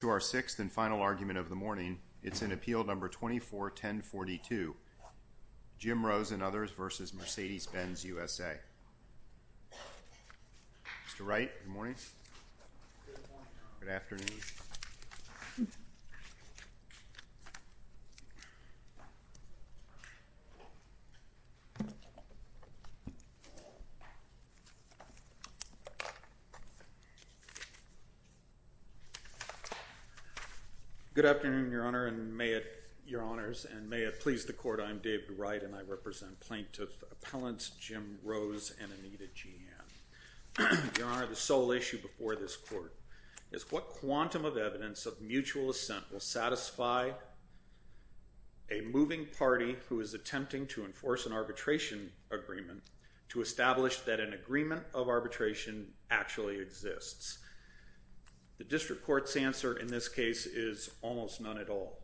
To our sixth and final argument of the morning, it's in Appeal No. 24-1042, Jim Rose v. Mercedes-Benz USA. Mr. Wright, good morning. Good afternoon, Your Honor and may it please the Court, I'm David Wright and I represent Plaintiff Appellants Jim Rose and Anita Jeanne. Your Honor, the sole issue before this Court is what quantum of evidence of mutual assent will satisfy a moving party who is attempting to enforce an arbitration agreement to establish that an agreement of arbitration actually exists? The District Court's answer in this case is almost none at all.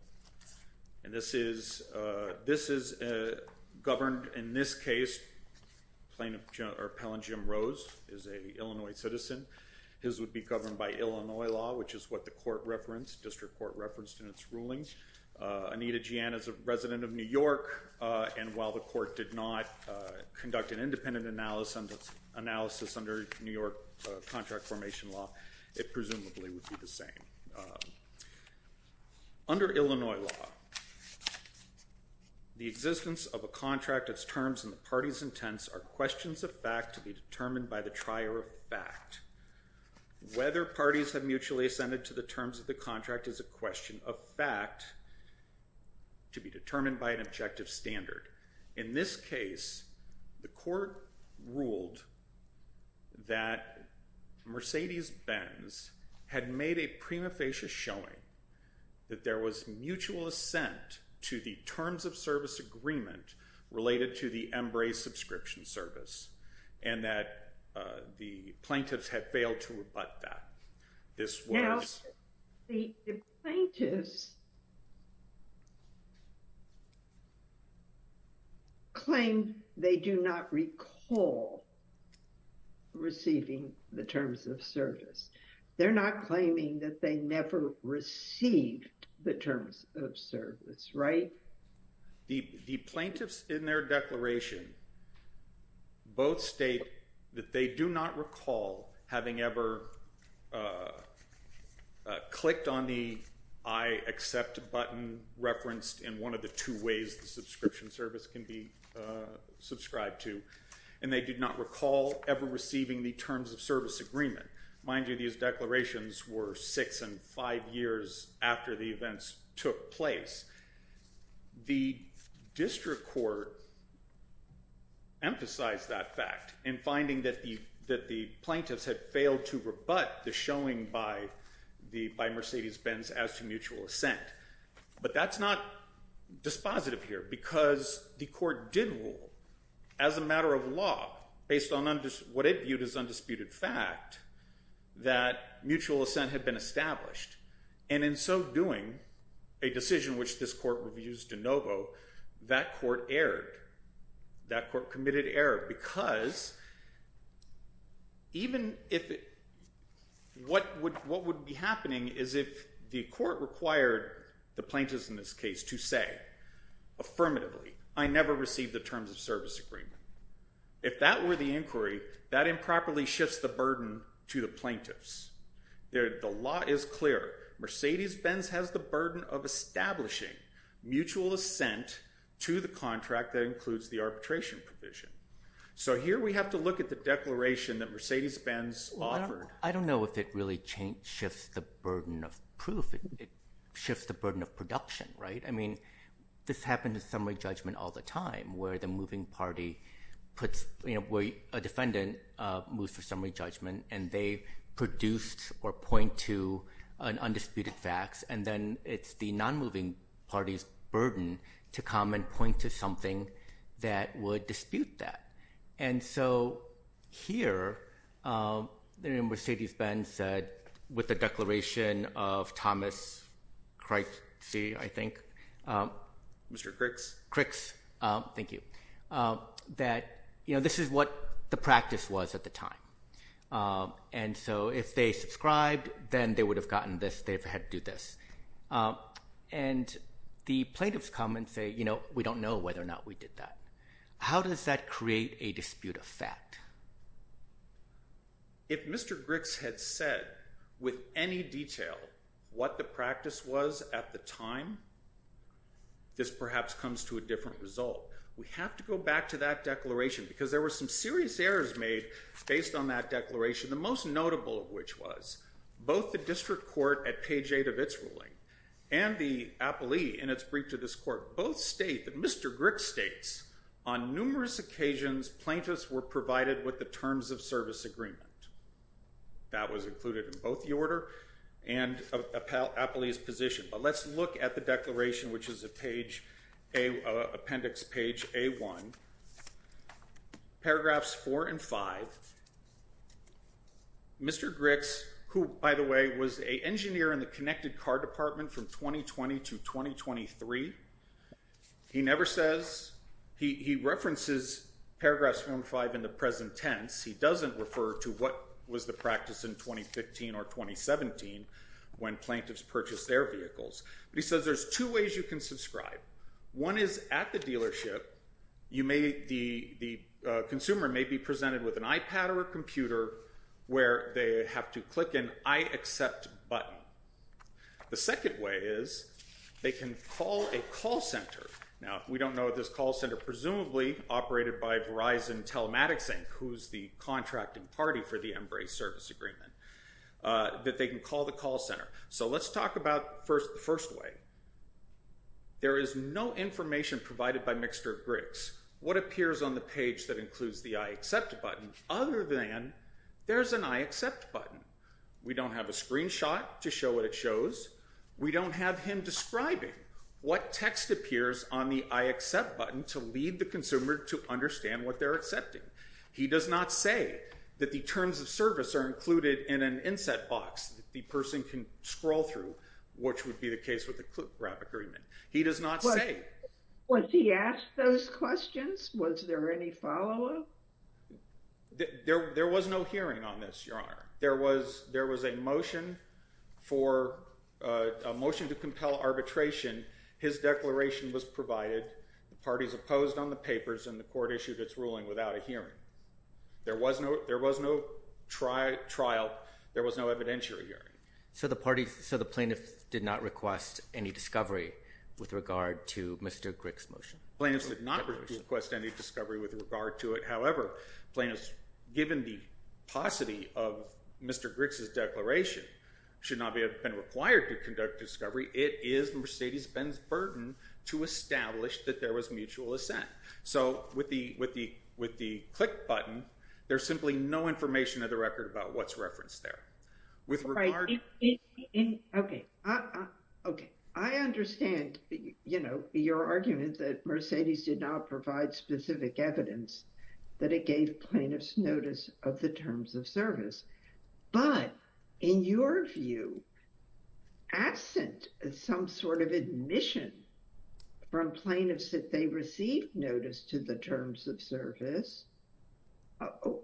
And this is governed, in this case, Plaintiff Appellant Jim Rose is an Illinois citizen. His would be governed by Illinois law, which is what the District Court referenced in its ruling. Anita Jeanne is a resident of New York, and while the Court did not conduct an independent analysis under New York contract formation law, it presumably would be the same. Under Illinois law, the existence of a contract, its terms, and the party's intents are questions of fact to be determined by the trier of fact. Whether parties have mutually assented to the terms of the contract is a question of fact to be determined by an objective standard. In this case, the Court ruled that Mercedes-Benz had made a prima facie showing that there was mutual assent to the terms of service agreement related to the Embraer subscription service, and that the plaintiffs had failed to rebut that. This does not claim they do not recall receiving the terms of service. They're not claiming that they never received the terms of service, right? The plaintiffs in their declaration both state that they do not recall having ever clicked on the I accept button referenced in one of the two ways the subscription service can be subscribed to, and they did not recall ever receiving the terms of service agreement. Mind you, these declarations were six and five years after the events took place. The District Court emphasized that fact in finding that the plaintiffs had failed to rebut the showing by Mercedes-Benz as to mutual assent. But that's not dispositive here, because the Court did rule as a matter of law, based on what it viewed as undisputed fact, that mutual assent had been established. And in so doing, a decision which this Court reviews de novo, that Court erred. That Court committed error, because even if it, what would be happening is if the Court required the plaintiffs in this case to say affirmatively, I never received the terms of service agreement. If that were the inquiry, that improperly shifts the burden to the plaintiffs. The law is clear. Mercedes-Benz has the burden of establishing mutual assent to the contract that includes the arbitration provision. So here we have to look at the declaration that Mercedes-Benz offered. I don't know if it really shifts the burden of proof. It shifts the burden of production, right? I mean, this happened in summary judgment all the time, where the moving party puts, you know, where a defendant moves for summary judgment, and they produced or point to an undisputed facts, and then it's the non-moving party's burden to come and point to something that would dispute that. And so here, you know, Mercedes-Benz said, with the declaration of Thomas Crix, I think, that, you know, this is what the practice was at the time. And so if they subscribed, then they would have gotten this. They would have had to do this. And the plaintiffs come and say, you know, we don't know whether or not we did that. How does that create a dispute of fact? If Mr. Crix had said with any detail what the practice was at the time, this perhaps comes to a different result. We have to go back to that declaration, because there were some serious errors made based on that declaration, the most notable of which was, both the district court at page 8 of its ruling, and the appellee in its brief to this court, both state that Mr. Crix states, on numerous occasions, plaintiffs were provided with the terms of service agreement. That was included in both the order and appellee's position. But let's look at the declaration, which is appendix page A1, paragraphs 4 and 5. Mr. Crix, who, by the way, was an engineer in the connected car department from 2020 to 2023, he never says, he references paragraphs 1 and 5 in the present tense. He doesn't refer to what was the practice in 2015 or 2017 when plaintiffs purchased their vehicles. He says there's two ways you can subscribe. One is at the dealership, the consumer may be presented with an iPad or a computer where they have to click an I accept button. The second way is they can call a call center. Now, we don't know if this call center, presumably operated by Verizon Telematics Inc., who's the contracting party for the Embrace service agreement, that they can call the call center. So let's talk about the first way. There is no information provided by Mixter Crix, what appears on the page that includes the I accept button, other than there's an I accept button. We don't have a screenshot to show what it shows. We don't have him describing what text appears on the I accept button to lead the consumer to understand what they're accepting. He does not say that the terms of service are included in an inset box that the person can scroll through, which would be the case with the clip wrap agreement. He does not say. Was he asked those questions? Was there any follow-up? There was no hearing on this, Your Honor. There was a motion to compel arbitration. His declaration was provided, the parties opposed on the papers, and the court issued its ruling without a hearing. There was no trial. There was no evidentiary hearing. So the plaintiff did not request any discovery with regard to Mixter Crix's motion? Plaintiffs did not request any discovery with regard to it. However, plaintiffs, given the paucity of Mixter Crix's declaration, should not have been required to conduct discovery. It is Mercedes Benz's burden to establish that there was mutual assent. So with the click button, there's simply no information of the record about what's referenced there. I understand, you know, your argument that Mercedes did not provide specific evidence that it gave plaintiffs notice of the terms of service. But, in your view, absent the some sort of admission from plaintiffs that they received notice to the terms of service,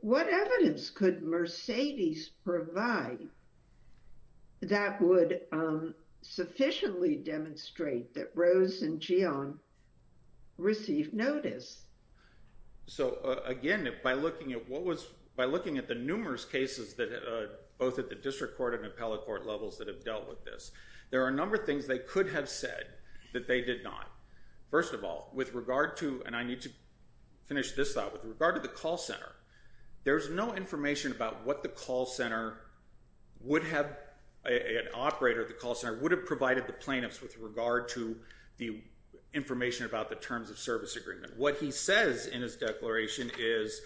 what evidence could Mercedes provide that would sufficiently demonstrate that Rose and Gian received notice? So again, by looking at what was, by looking at the numerous cases that, both at the district court and appellate court levels that have dealt with this, there are a number of things they could have said that they did not. First of all, with regard to, and I need to finish this thought, with regard to the call center, there's no information about what the call center would have, an operator at the call center, would have provided the plaintiffs with regard to the information about the terms of service agreement. What he says in his declaration is,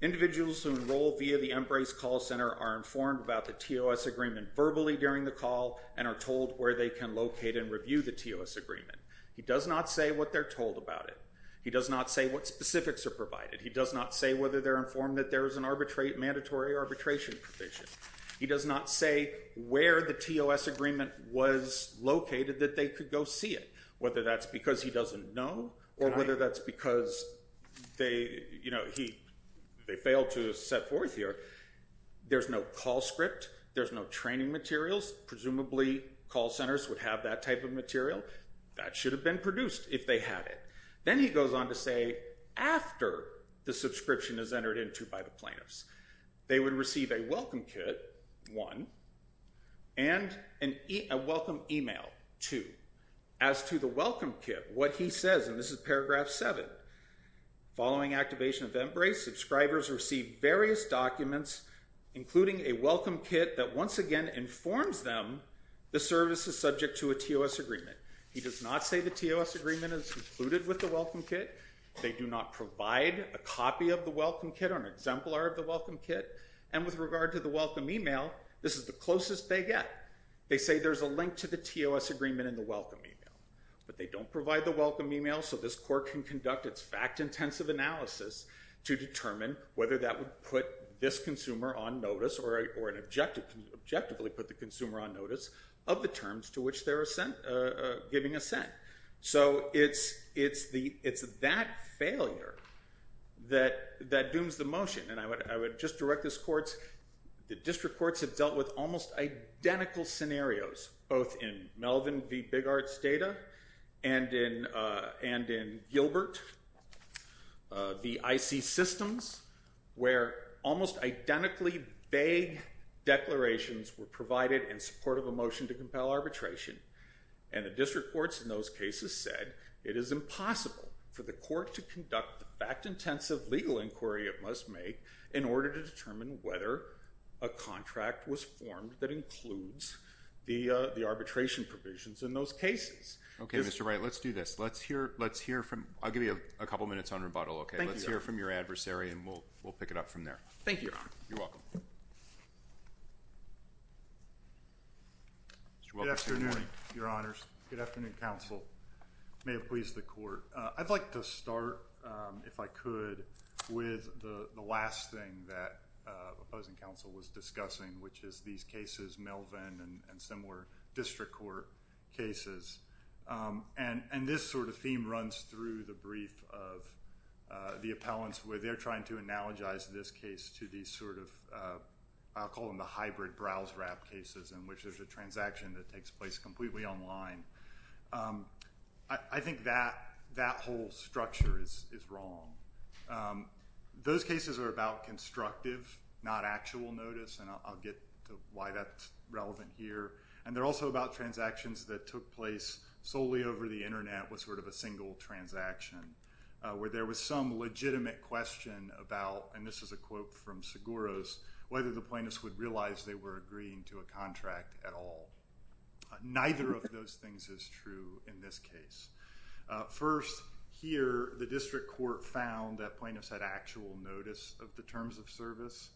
individuals who enroll via the Embrace call center are informed about the TOS agreement verbally during the call and are told where they can locate and review the TOS agreement. He does not say what they're told about it. He does not say what specifics are provided. He does not say whether they're informed that there is an arbitrary, mandatory arbitration provision. He does not say where the TOS agreement was located that they could go see it, whether that's because he doesn't know or whether that's because they, you know, he, they failed to set forth here. There's no call script. There's no training materials. Presumably call centers would have that type of material. That should have been produced if they had it. Then he goes on to say, after the subscription is entered into by the plaintiffs, they would receive a welcome kit, one, and a welcome email, two. As to the welcome kit, what he says, and this is paragraph seven, following activation of Embrace, subscribers receive various documents, including a welcome kit that once again informs them the service is subject to a TOS agreement. He does not say the TOS agreement is included with the welcome kit. They do not provide a copy of the welcome kit or an exemplar of the welcome kit, and with regard to the welcome email, this is the closest they get. They say there's a link to the TOS agreement in the welcome email, but they don't provide the welcome email so this court can conduct its fact-intensive analysis to determine whether that would put this consumer on notice or an objective, objectively put the consumer on notice of the terms to which they're giving assent. So it's that failure that dooms the motion, and I would just direct this court, the district courts have dealt with almost identical scenarios, both in Melvin v. Biggarts data and in Gilbert, the IC systems, where almost identically vague declarations were provided in support of a motion to compel arbitration, and the district courts in those cases said it is impossible for the court to conduct the fact-intensive legal inquiry it must make in order to determine whether a contract was formed that includes the arbitration provisions in those cases. Okay, Mr. Wright, let's do this. Let's hear from, I'll give you a couple minutes on rebuttal, okay? Let's hear from your adversary and we'll pick it up from there. Thank you, Your Honor. You're welcome. Good afternoon, Your Honors. Good afternoon, counsel. May it please the court. I'd like to start, if I could, with the last thing that the opposing counsel was discussing, which is these cases, Melvin and similar district court cases, and this sort of theme runs through the brief of the appellants where they're trying to analogize this case to these sort of, I'll call them the hybrid browse-wrap cases in which there's a transaction that takes place completely online. I think that whole structure is wrong. Those cases are about constructive, not actual notice, and I'll get to why that's relevant here, and they're also about transactions that took place solely over the Internet with sort of a single transaction where there was some legitimate question about, and this is a quote from Seguros, whether the plaintiffs would realize they were agreeing to a contract at all. Neither of those things is true in this case. First, here, the district court found that plaintiffs had actual notice of the terms of service.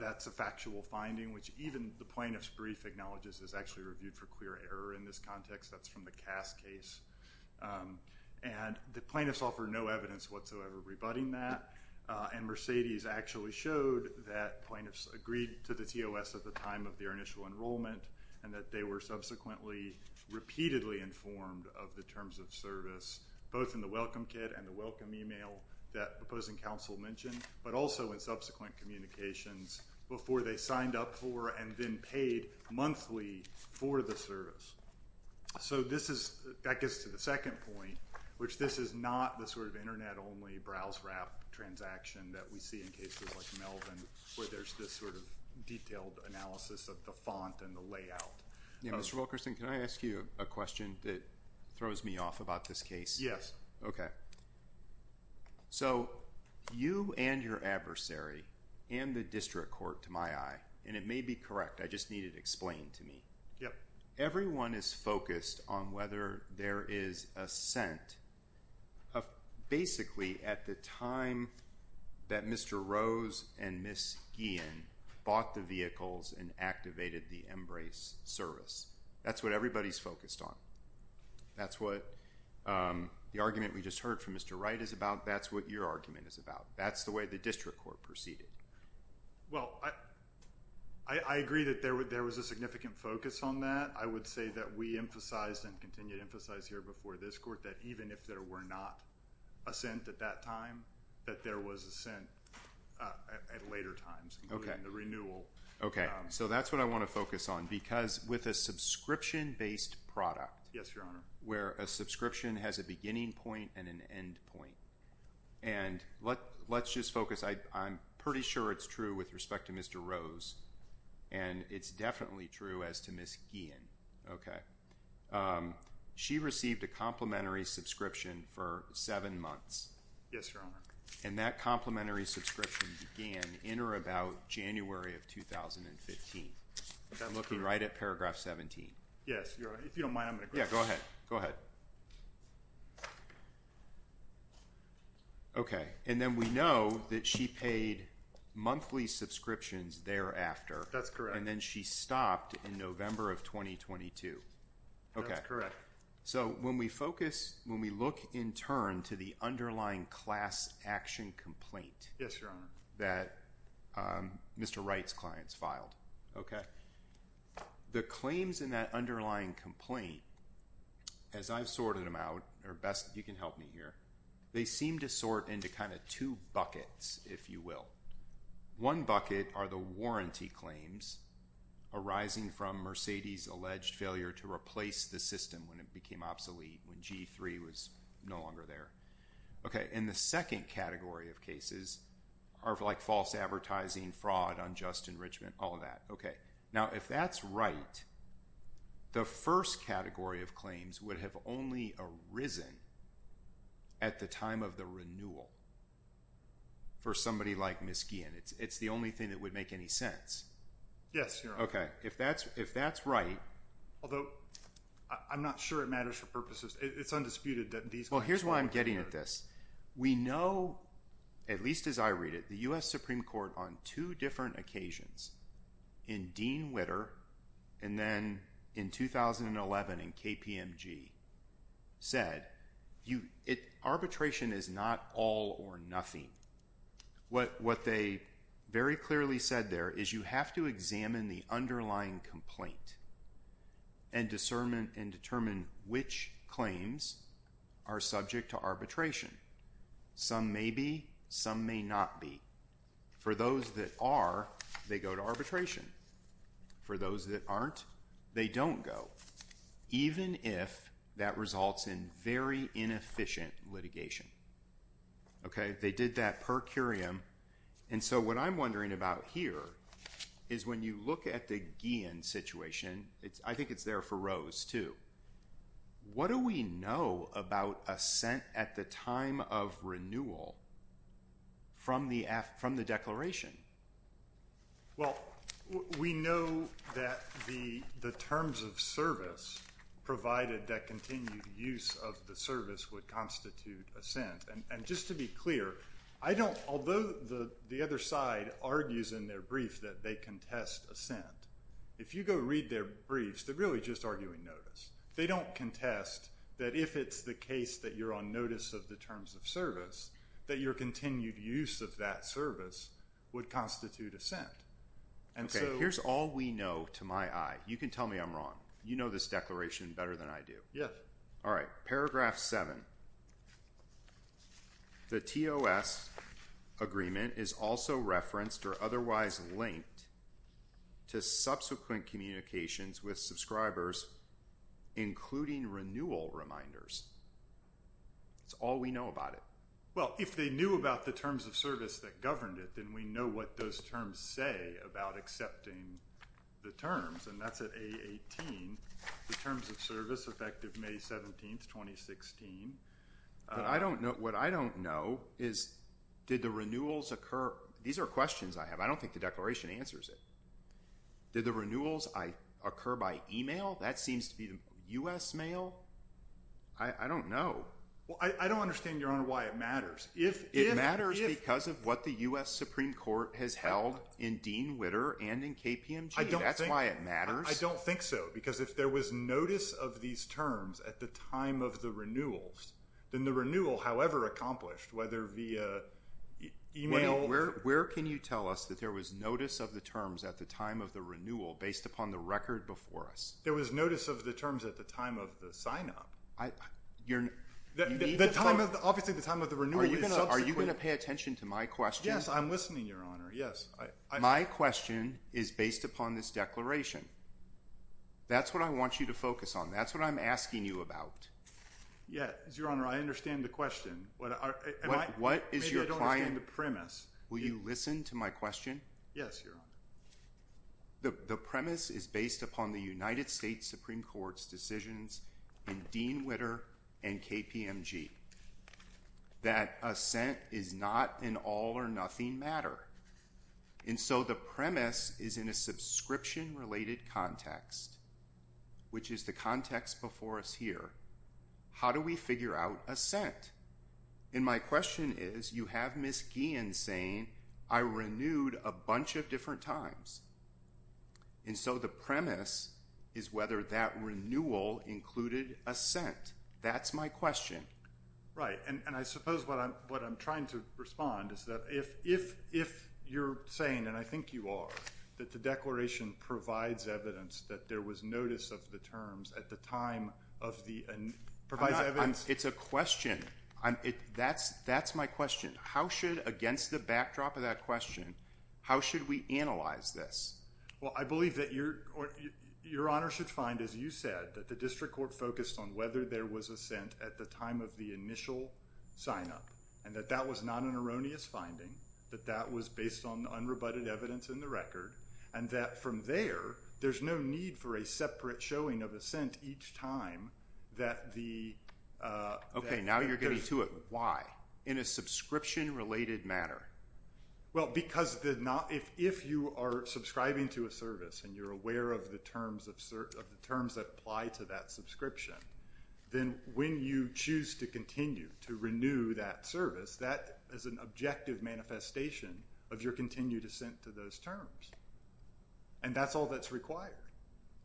That's a factual finding which even the plaintiff's brief acknowledges is actually reviewed for clear error in this context. That's from the Cass case, and the plaintiffs offered no evidence whatsoever rebutting that, and Mercedes actually showed that plaintiffs agreed to the TOS at the time of their initial enrollment and that they were subsequently repeatedly informed of the terms of service, both in the welcome kit and the welcome email that proposing counsel mentioned, but also in subsequent communications before they signed up for and then paid monthly for the service. So this is, that gets to the second point, which this is not the sort of Internet-only browse route transaction that we see in cases like Melvin where there's this sort of detailed analysis of the font and the layout. Yeah, Mr. Wilkerson, can I ask you a question that throws me off about this case? Yes. Okay. So, you and your adversary and the district court, to my eye, and it may be correct, I just need it explained to me. Everyone is focused on whether there is a scent of basically at the time that Mr. Rose and Ms. Guillen bought the vehicles and activated the Embrace service. That's what everybody's focused on. That's what the argument we just heard from Mr. Wright is about. That's what your argument is about. That's the way the district court proceeded. Well, I agree that there was a significant focus on that. I would say that we emphasized and continue to emphasize here before this court that even if there were not a scent at that time, that there was a scent at later times, including the renewal. Okay. So that's what I want to focus on because with a subscription-based product where a subscription has a beginning point and an end point. And let's just focus. I'm pretty sure it's true with respect to Mr. Rose, and it's definitely true as to Ms. Guillen. Okay. She received a complimentary subscription for seven months. Yes, Your Honor. And that complimentary subscription began in or about January of 2015. I'm looking right at paragraph 17. Yes, Your Honor. If you don't mind, I'm going to go ahead. Okay. Go ahead. Okay. And then we know that she paid monthly subscriptions thereafter. That's correct. And then she stopped in November of 2022. That's correct. Okay. So when we focus, when we look in turn to the underlying class action complaint that Mr. Wright's clients filed, okay, the claims in that underlying complaint, as I've sorted them out, or best you can help me here, they seem to sort into kind of two buckets, if you will. One bucket are the warranty claims arising from Mercedes' alleged failure to replace the system when it became obsolete, when G3 was no longer there. Okay. And the second category of cases are like false advertising, fraud, unjust enrichment, all of that. Okay. Now if that's right, the first category of claims would have only arisen at the time of the renewal for somebody like Ms. Guillen. It's the only thing that would make any sense. Yes, Your Honor. Okay. If that's right. Although I'm not sure it matters for purposes. It's undisputed that these Well, here's why I'm getting at this. We know, at least as I read it, the U.S. Supreme Court on two different occasions in Dean Witter and then in 2011 in KPMG said, arbitration is not all or nothing. What they very clearly said there is you have to examine the underlying complaint and determine which claims are subject to arbitration. Some may be, some may not be. For those that are, they go to arbitration. For those that aren't, they don't go, even if that results in very inefficient litigation. Okay. They did that per curiam. And so what I'm wondering about here is when you look at the Guillen situation, I think it's there for Rose too. What do we know about assent at the time of renewal from the declaration? Well, we know that the terms of service provided that continued use of the service would constitute assent. And just to be clear, I don't, although the other side argues in their brief that they contest assent, if you go read their briefs, they're really just arguing notice. They don't contest that if it's the case that you're on notice of the terms of service, that your continued use of that service would constitute assent. Okay. Here's all we know to my eye. You can tell me I'm wrong. You know this declaration better than I do. All right. Paragraph 7. The TOS agreement is also referenced or otherwise linked to subsequent communications with subscribers, including renewal reminders. That's all we know about it. Well, if they knew about the terms of service that governed it, then we know what those terms say about accepting the terms. And that's at A18. The terms of service effective May 17th, 2016. I don't know. What I don't know is did the renewals occur? These are questions I have. I don't think the declaration answers it. Did the renewals occur by email? That seems to be the U.S. mail. I don't know. Well, I don't understand, Your Honor, why it matters. It matters because of what the U.S. Supreme Court has held in Dean Witter and in KPMG. That's why it matters. I don't think so. Because if there was notice of these terms at the time of the renewals, then the renewal, however accomplished, whether via email. Where can you tell us that there was notice of the terms at the time of the renewal based upon the record before us? There was notice of the terms at the time of the sign-up. Obviously, the time of the renewal is subsequent. Are you going to pay attention to my question? Yes, I'm listening, Your Honor. Yes. My question is based upon this declaration. That's what I want you to focus on. That's what I'm asking you about. Yes, Your Honor, I understand the question. What is your client? Maybe I don't understand the premise. Will you listen to my question? Yes, Your Honor. The premise is based upon the United States Supreme Court's decisions in Dean Witter and KPMG. That assent is not an all or nothing matter. And so the premise is in a subscription-related context, which is the context before us here. How do we figure out assent? And my question is, you have Ms. Guillen saying, I renewed a bunch of different times. And so the premise is whether that renewal included assent. That's my question. Right. And I suppose what I'm trying to respond is that if you're saying, and I think you are, that the declaration provides evidence that there was notice of the terms at the time of the, and provides evidence. It's a question. That's my question. How should, against the backdrop of that question, how should we analyze this? Well, I believe that Your Honor should find, as you said, that the district court focused on whether there was assent at the time of the initial sign-up. And that that was not an erroneous finding. That that was based on unrebutted evidence in the record. And that from there, there's no need for a separate showing of assent each time that the. Okay. Now you're getting to it. Why? In a subscription-related matter. Well, because if you are subscribing to a service and you're aware of the terms that apply to that subscription, then when you choose to continue to renew that service, that is an objective manifestation of your continued assent to those terms. And that's all that's required.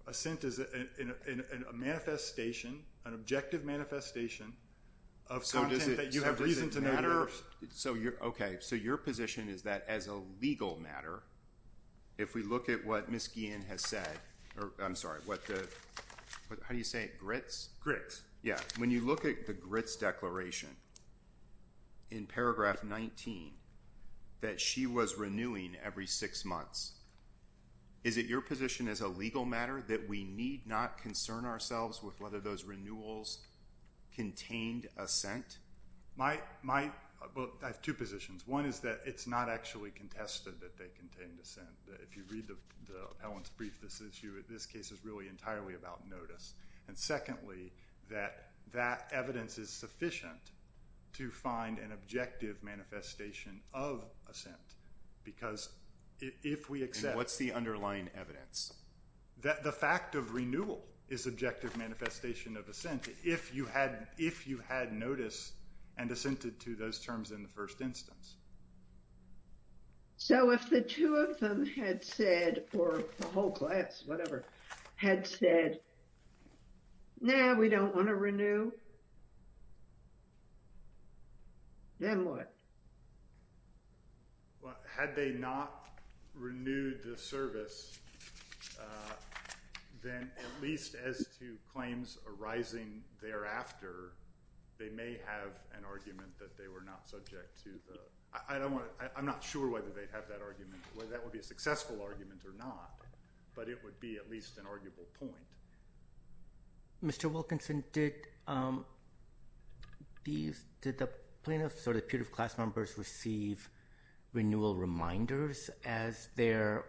Assent is a manifestation, an objective manifestation of content that you have reason to notice. So does it matter? So you're, okay. So your position is that as a legal matter, if we look at what Ms. McKeon has said, or I'm sorry, what the, how do you say it? Grits? Grits. Yeah. When you look at the grits declaration in paragraph 19, that she was renewing every six months, is it your position as a legal matter that we need not concern ourselves with whether those renewals contained assent? My, my, well, I have two positions. One is that it's not actually contested that they contained assent. That if you read the, the appellant's brief, this issue, this case is really entirely about notice. And secondly, that that evidence is sufficient to find an objective manifestation of assent. Because if we accept- And what's the underlying evidence? That the fact of renewal is objective manifestation of assent if you had, if you had notice and assented to those terms in the first instance. So if the two of them had said, or the whole class, whatever, had said, nah, we don't want to renew, then what? Well, had they not renewed the service then at least as to claims arising thereafter, they may have an argument that they were not subject to the, I don't want to, I'm not sure whether they'd have that argument, whether that would be a successful argument or not, but it would be at least an arguable point. Mr. Wilkinson, did these, did the plaintiffs or the peer of class members receive renewal reminders as their,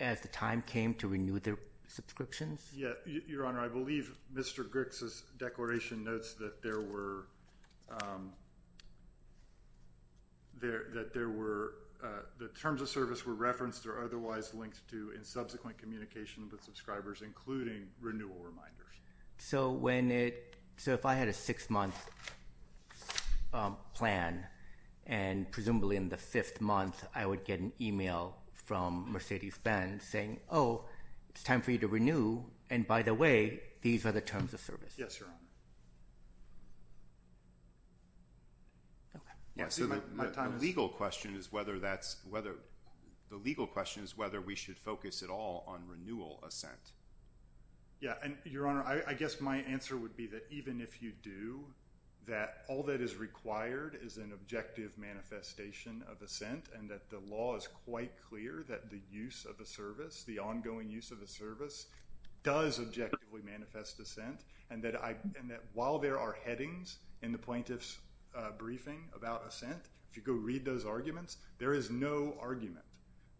as the time came to renew their subscriptions? Yeah. Your Honor, I believe Mr. Griggs's declaration notes that there were, that there were, the terms of service were referenced or otherwise linked to in subsequent communication with subscribers, including renewal reminders. So when it, so if I had a six month plan and presumably in the fifth month, I would get an email from Mercedes Benz saying, oh, it's time for you to renew. And by the way, these are the terms of service. Yes, Your Honor. Okay. Yeah. So the legal question is whether that's, whether the legal question is whether we should focus at all on renewal assent. Yeah. And Your Honor, I guess my answer would be that even if you do, that all that is required is an objective manifestation of assent and that the law is quite clear that the use of a service, the ongoing use of a service does objectively manifest assent and that I, and that while there are headings in the plaintiff's briefing about assent, if you go read those arguments, there is no argument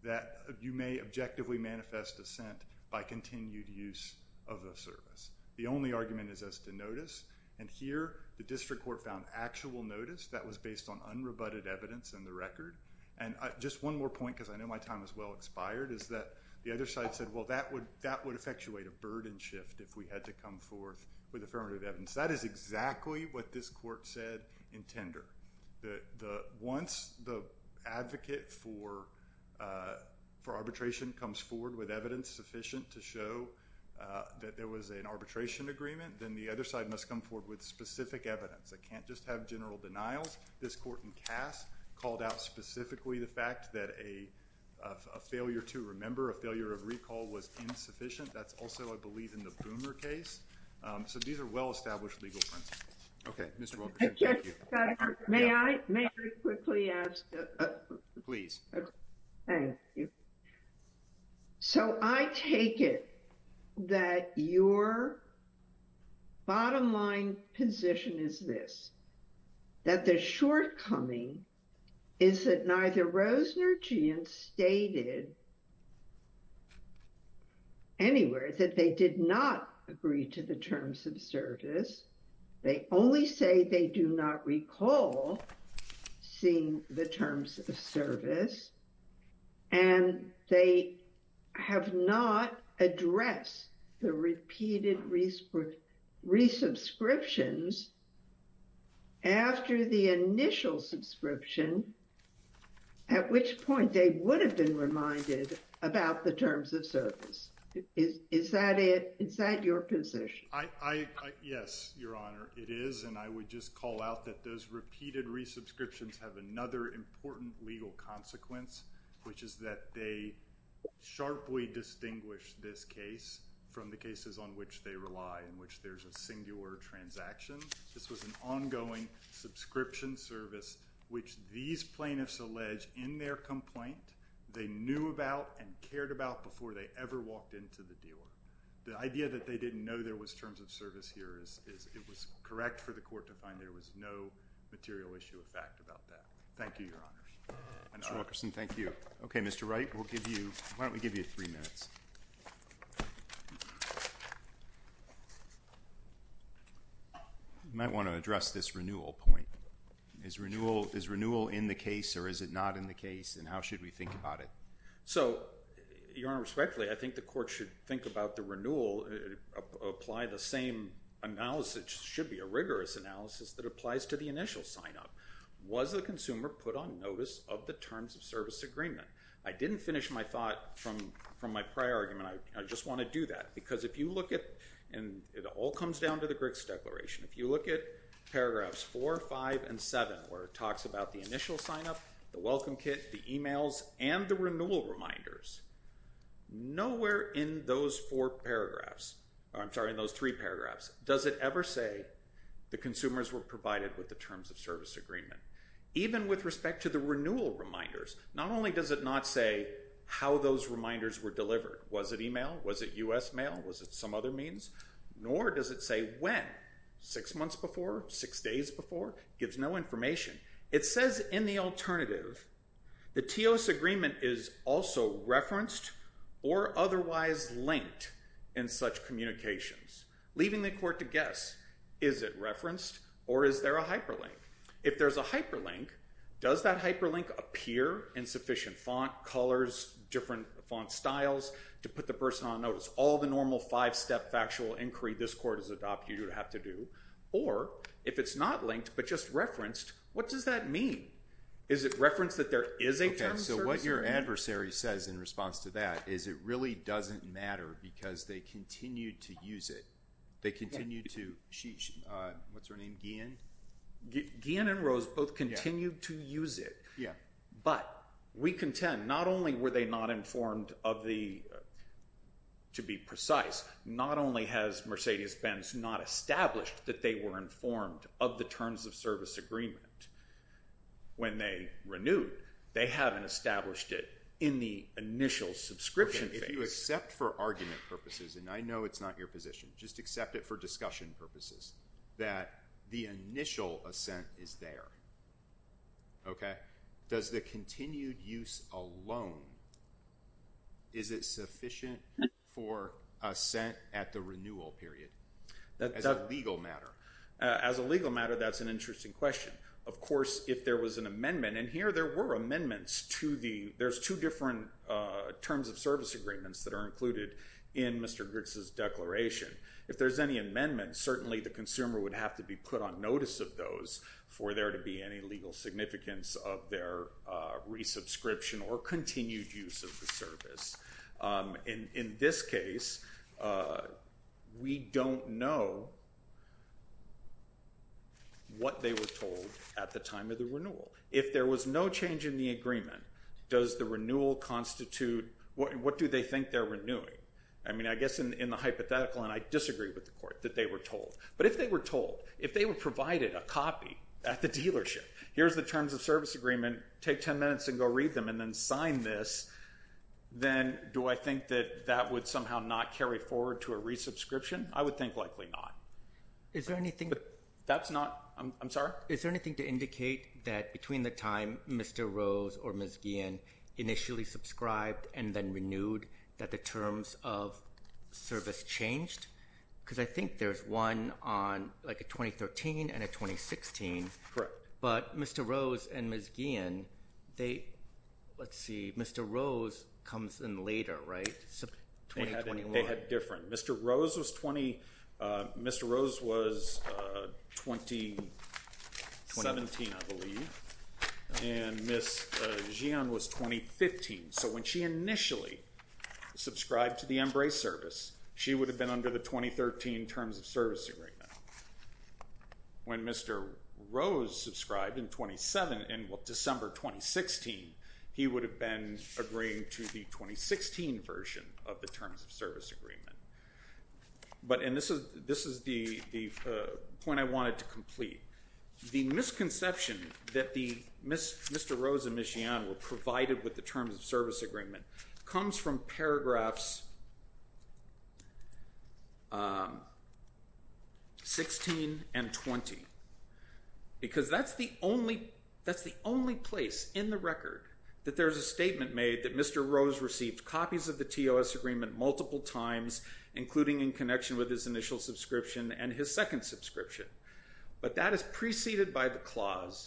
that you may objectively manifest assent by continued use of the service. The only argument is as to notice. And here, the district court found actual notice that was based on unrebutted evidence in the record. And just one more point, because I know my time is well expired, is that the other side said, well, that would, that would effectuate a burden shift if we had to come forth with affirmative evidence. That is exactly what this court said in tender. That the, once the advocate for, for arbitration comes forward with evidence sufficient to show that there was an arbitration agreement, then the other side must come forward with specific evidence. I can't just have general denials. This court in Cass called out specifically the fact that a failure to remember, a failure of recall was insufficient. That's also, I believe in the Boomer case. So these are well-established legal principles. Okay. Mr. Walker. Thank you. May I, may I quickly ask? Please. Okay. Thank you. So I take it that your bottom line position is this, that the shortcoming is that neither Rosen or Geant stated anywhere that they did not agree to the terms of service. They only say they do not recall seeing the terms of service and they have not addressed the repeated resubscriptions after the initial subscription, at which point they would have been reminded about the terms of service. Is, is that it? Is that your position? I, I, yes, Your Honor. It is. And I would just call out that those repeated resubscriptions have another important legal consequence, which is that they sharply distinguish this case from the cases on which they rely, in which there's a singular transaction. This was an ongoing subscription service, which these plaintiffs allege in their complaint, they knew about and cared about before they ever walked into the dealer. The idea that they didn't know there was terms of service here is, is it was correct for the court to find there was no material issue of fact about that. Thank you, Your Honors. Mr. Wilkerson, thank you. Okay, you might want to address this renewal point. Is renewal, is renewal in the case, or is it not in the case, and how should we think about it? So, Your Honor, respectfully, I think the court should think about the renewal, apply the same analysis, it should be a rigorous analysis that applies to the initial sign-up. Was the consumer put on notice of the terms of service agreement? I didn't finish my thought from, from my prior argument. I, I just want to do that, because if you look at, and it all comes down to the Griggs Declaration, if you look at paragraphs four, five, and seven, where it talks about the initial sign-up, the welcome kit, the emails, and the renewal reminders, nowhere in those four paragraphs, or I'm sorry, in those three paragraphs, does it ever say the consumers were provided with the terms of service agreement. Even with respect to the renewal reminders, not only does it not say how those reminders were delivered, was it email, was it U.S. mail, was it some other means, nor does it say when, six months before, six days before, gives no information. It says in the alternative, the TEOS agreement is also referenced or otherwise linked in such communications, leaving the court to guess, is it referenced, or is there a hyperlink? If there's a hyperlink, does that hyperlink appear in sufficient font, colors, different font styles, to put the person on notice? All the normal five-step factual inquiry this court has adopted, you would have to do, or if it's not linked, but just referenced, what does that mean? Is it referenced that there is a term of service agreement? Okay, so what your adversary says in response to that is it really doesn't matter, because they continue to use it. They continue to, she, what's her name, Guillen? Guillen and Rose both continue to use it, but we contend not only were they not informed of the, to be precise, not only has Mercedes-Benz not established that they were informed of the terms of service agreement when they renewed, they haven't established it in the initial subscription phase. If you accept for argument purposes, and I know it's not your position, just accept it for discussion purposes, that the initial assent is there, okay? Does the continued use alone, is it sufficient for assent at the renewal period as a legal matter? As a legal matter, that's an interesting question. Of course, if there was an amendment, and here there were amendments to the, there's two different terms of service agreements that are included in Mr. Gritz's declaration. If there's any amendments, certainly the consumer would have to be put on notice of those for there to be any legal significance of their resubscription or continued use of the service. In this case, we don't know what they were told at the time of the renewal. If there was no change in the agreement, does the renewal constitute, what do they think they're renewing? I mean, I guess in the hypothetical, and I disagree with the court, that they were told. But if they were told, if they were provided a copy at the dealership, here's the terms of service agreement, take 10 minutes and go read them and then sign this, then do I think that that would somehow not carry forward to a resubscription? I would think likely not. Is there anything... That's not, I'm sorry? Is there anything to indicate that between the time Mr. Rose or Ms. Guillen initially subscribed and then renewed that the terms of service changed? Because I think there's one on like a 2013 and a 2016. Correct. But Mr. Rose and Ms. Guillen, they, let's see, Mr. Rose comes in later, right? They had different. Mr. Rose was Mr. Rose was 2017, I believe, and Ms. Guillen was 2015. So when she initially subscribed to the Embrace service, she would have been under the 2013 terms of service agreement. When Mr. Rose subscribed in 27, in December 2016, he would have been agreeing to the 2016 version of the terms of service agreement. And this is the point I wanted to complete. The misconception that Mr. Rose and Ms. Guillen were provided with the terms of service agreement comes from paragraphs 16 and 20. Because that's the only place in the record that there's a statement made that Mr. Rose and Ms. Guillen were provided with the terms of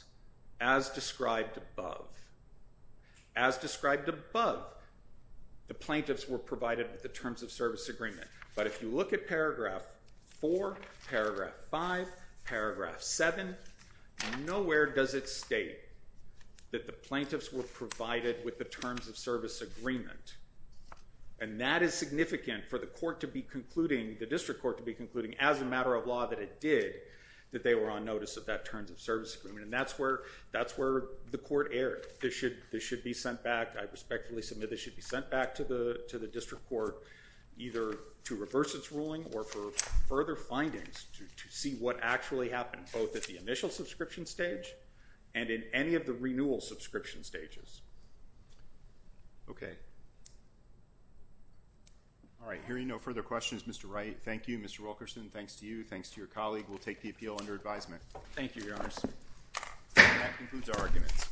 service agreement. But if you look at paragraph four, paragraph five, paragraph seven, nowhere does it state that the plaintiffs were provided with the terms of service agreement. And that is significant for the court to be concluding, the district court to be concluding as a matter of law that it did, that they were on notice of that terms of service agreement. And that's where the court erred. This should be sent back, I respectfully submit this should be sent back to the district court, either to reverse its ruling or for further findings to see what actually happened, both at the initial subscription stage and in any of the renewal subscription stages. Okay. All right. Hearing no further questions, Mr. Wright. Thank you, Mr. Wilkerson. Thanks to you. Thanks to your colleague. We'll take the appeal under advisement. Thank you, Your Honor. And that concludes our arguments.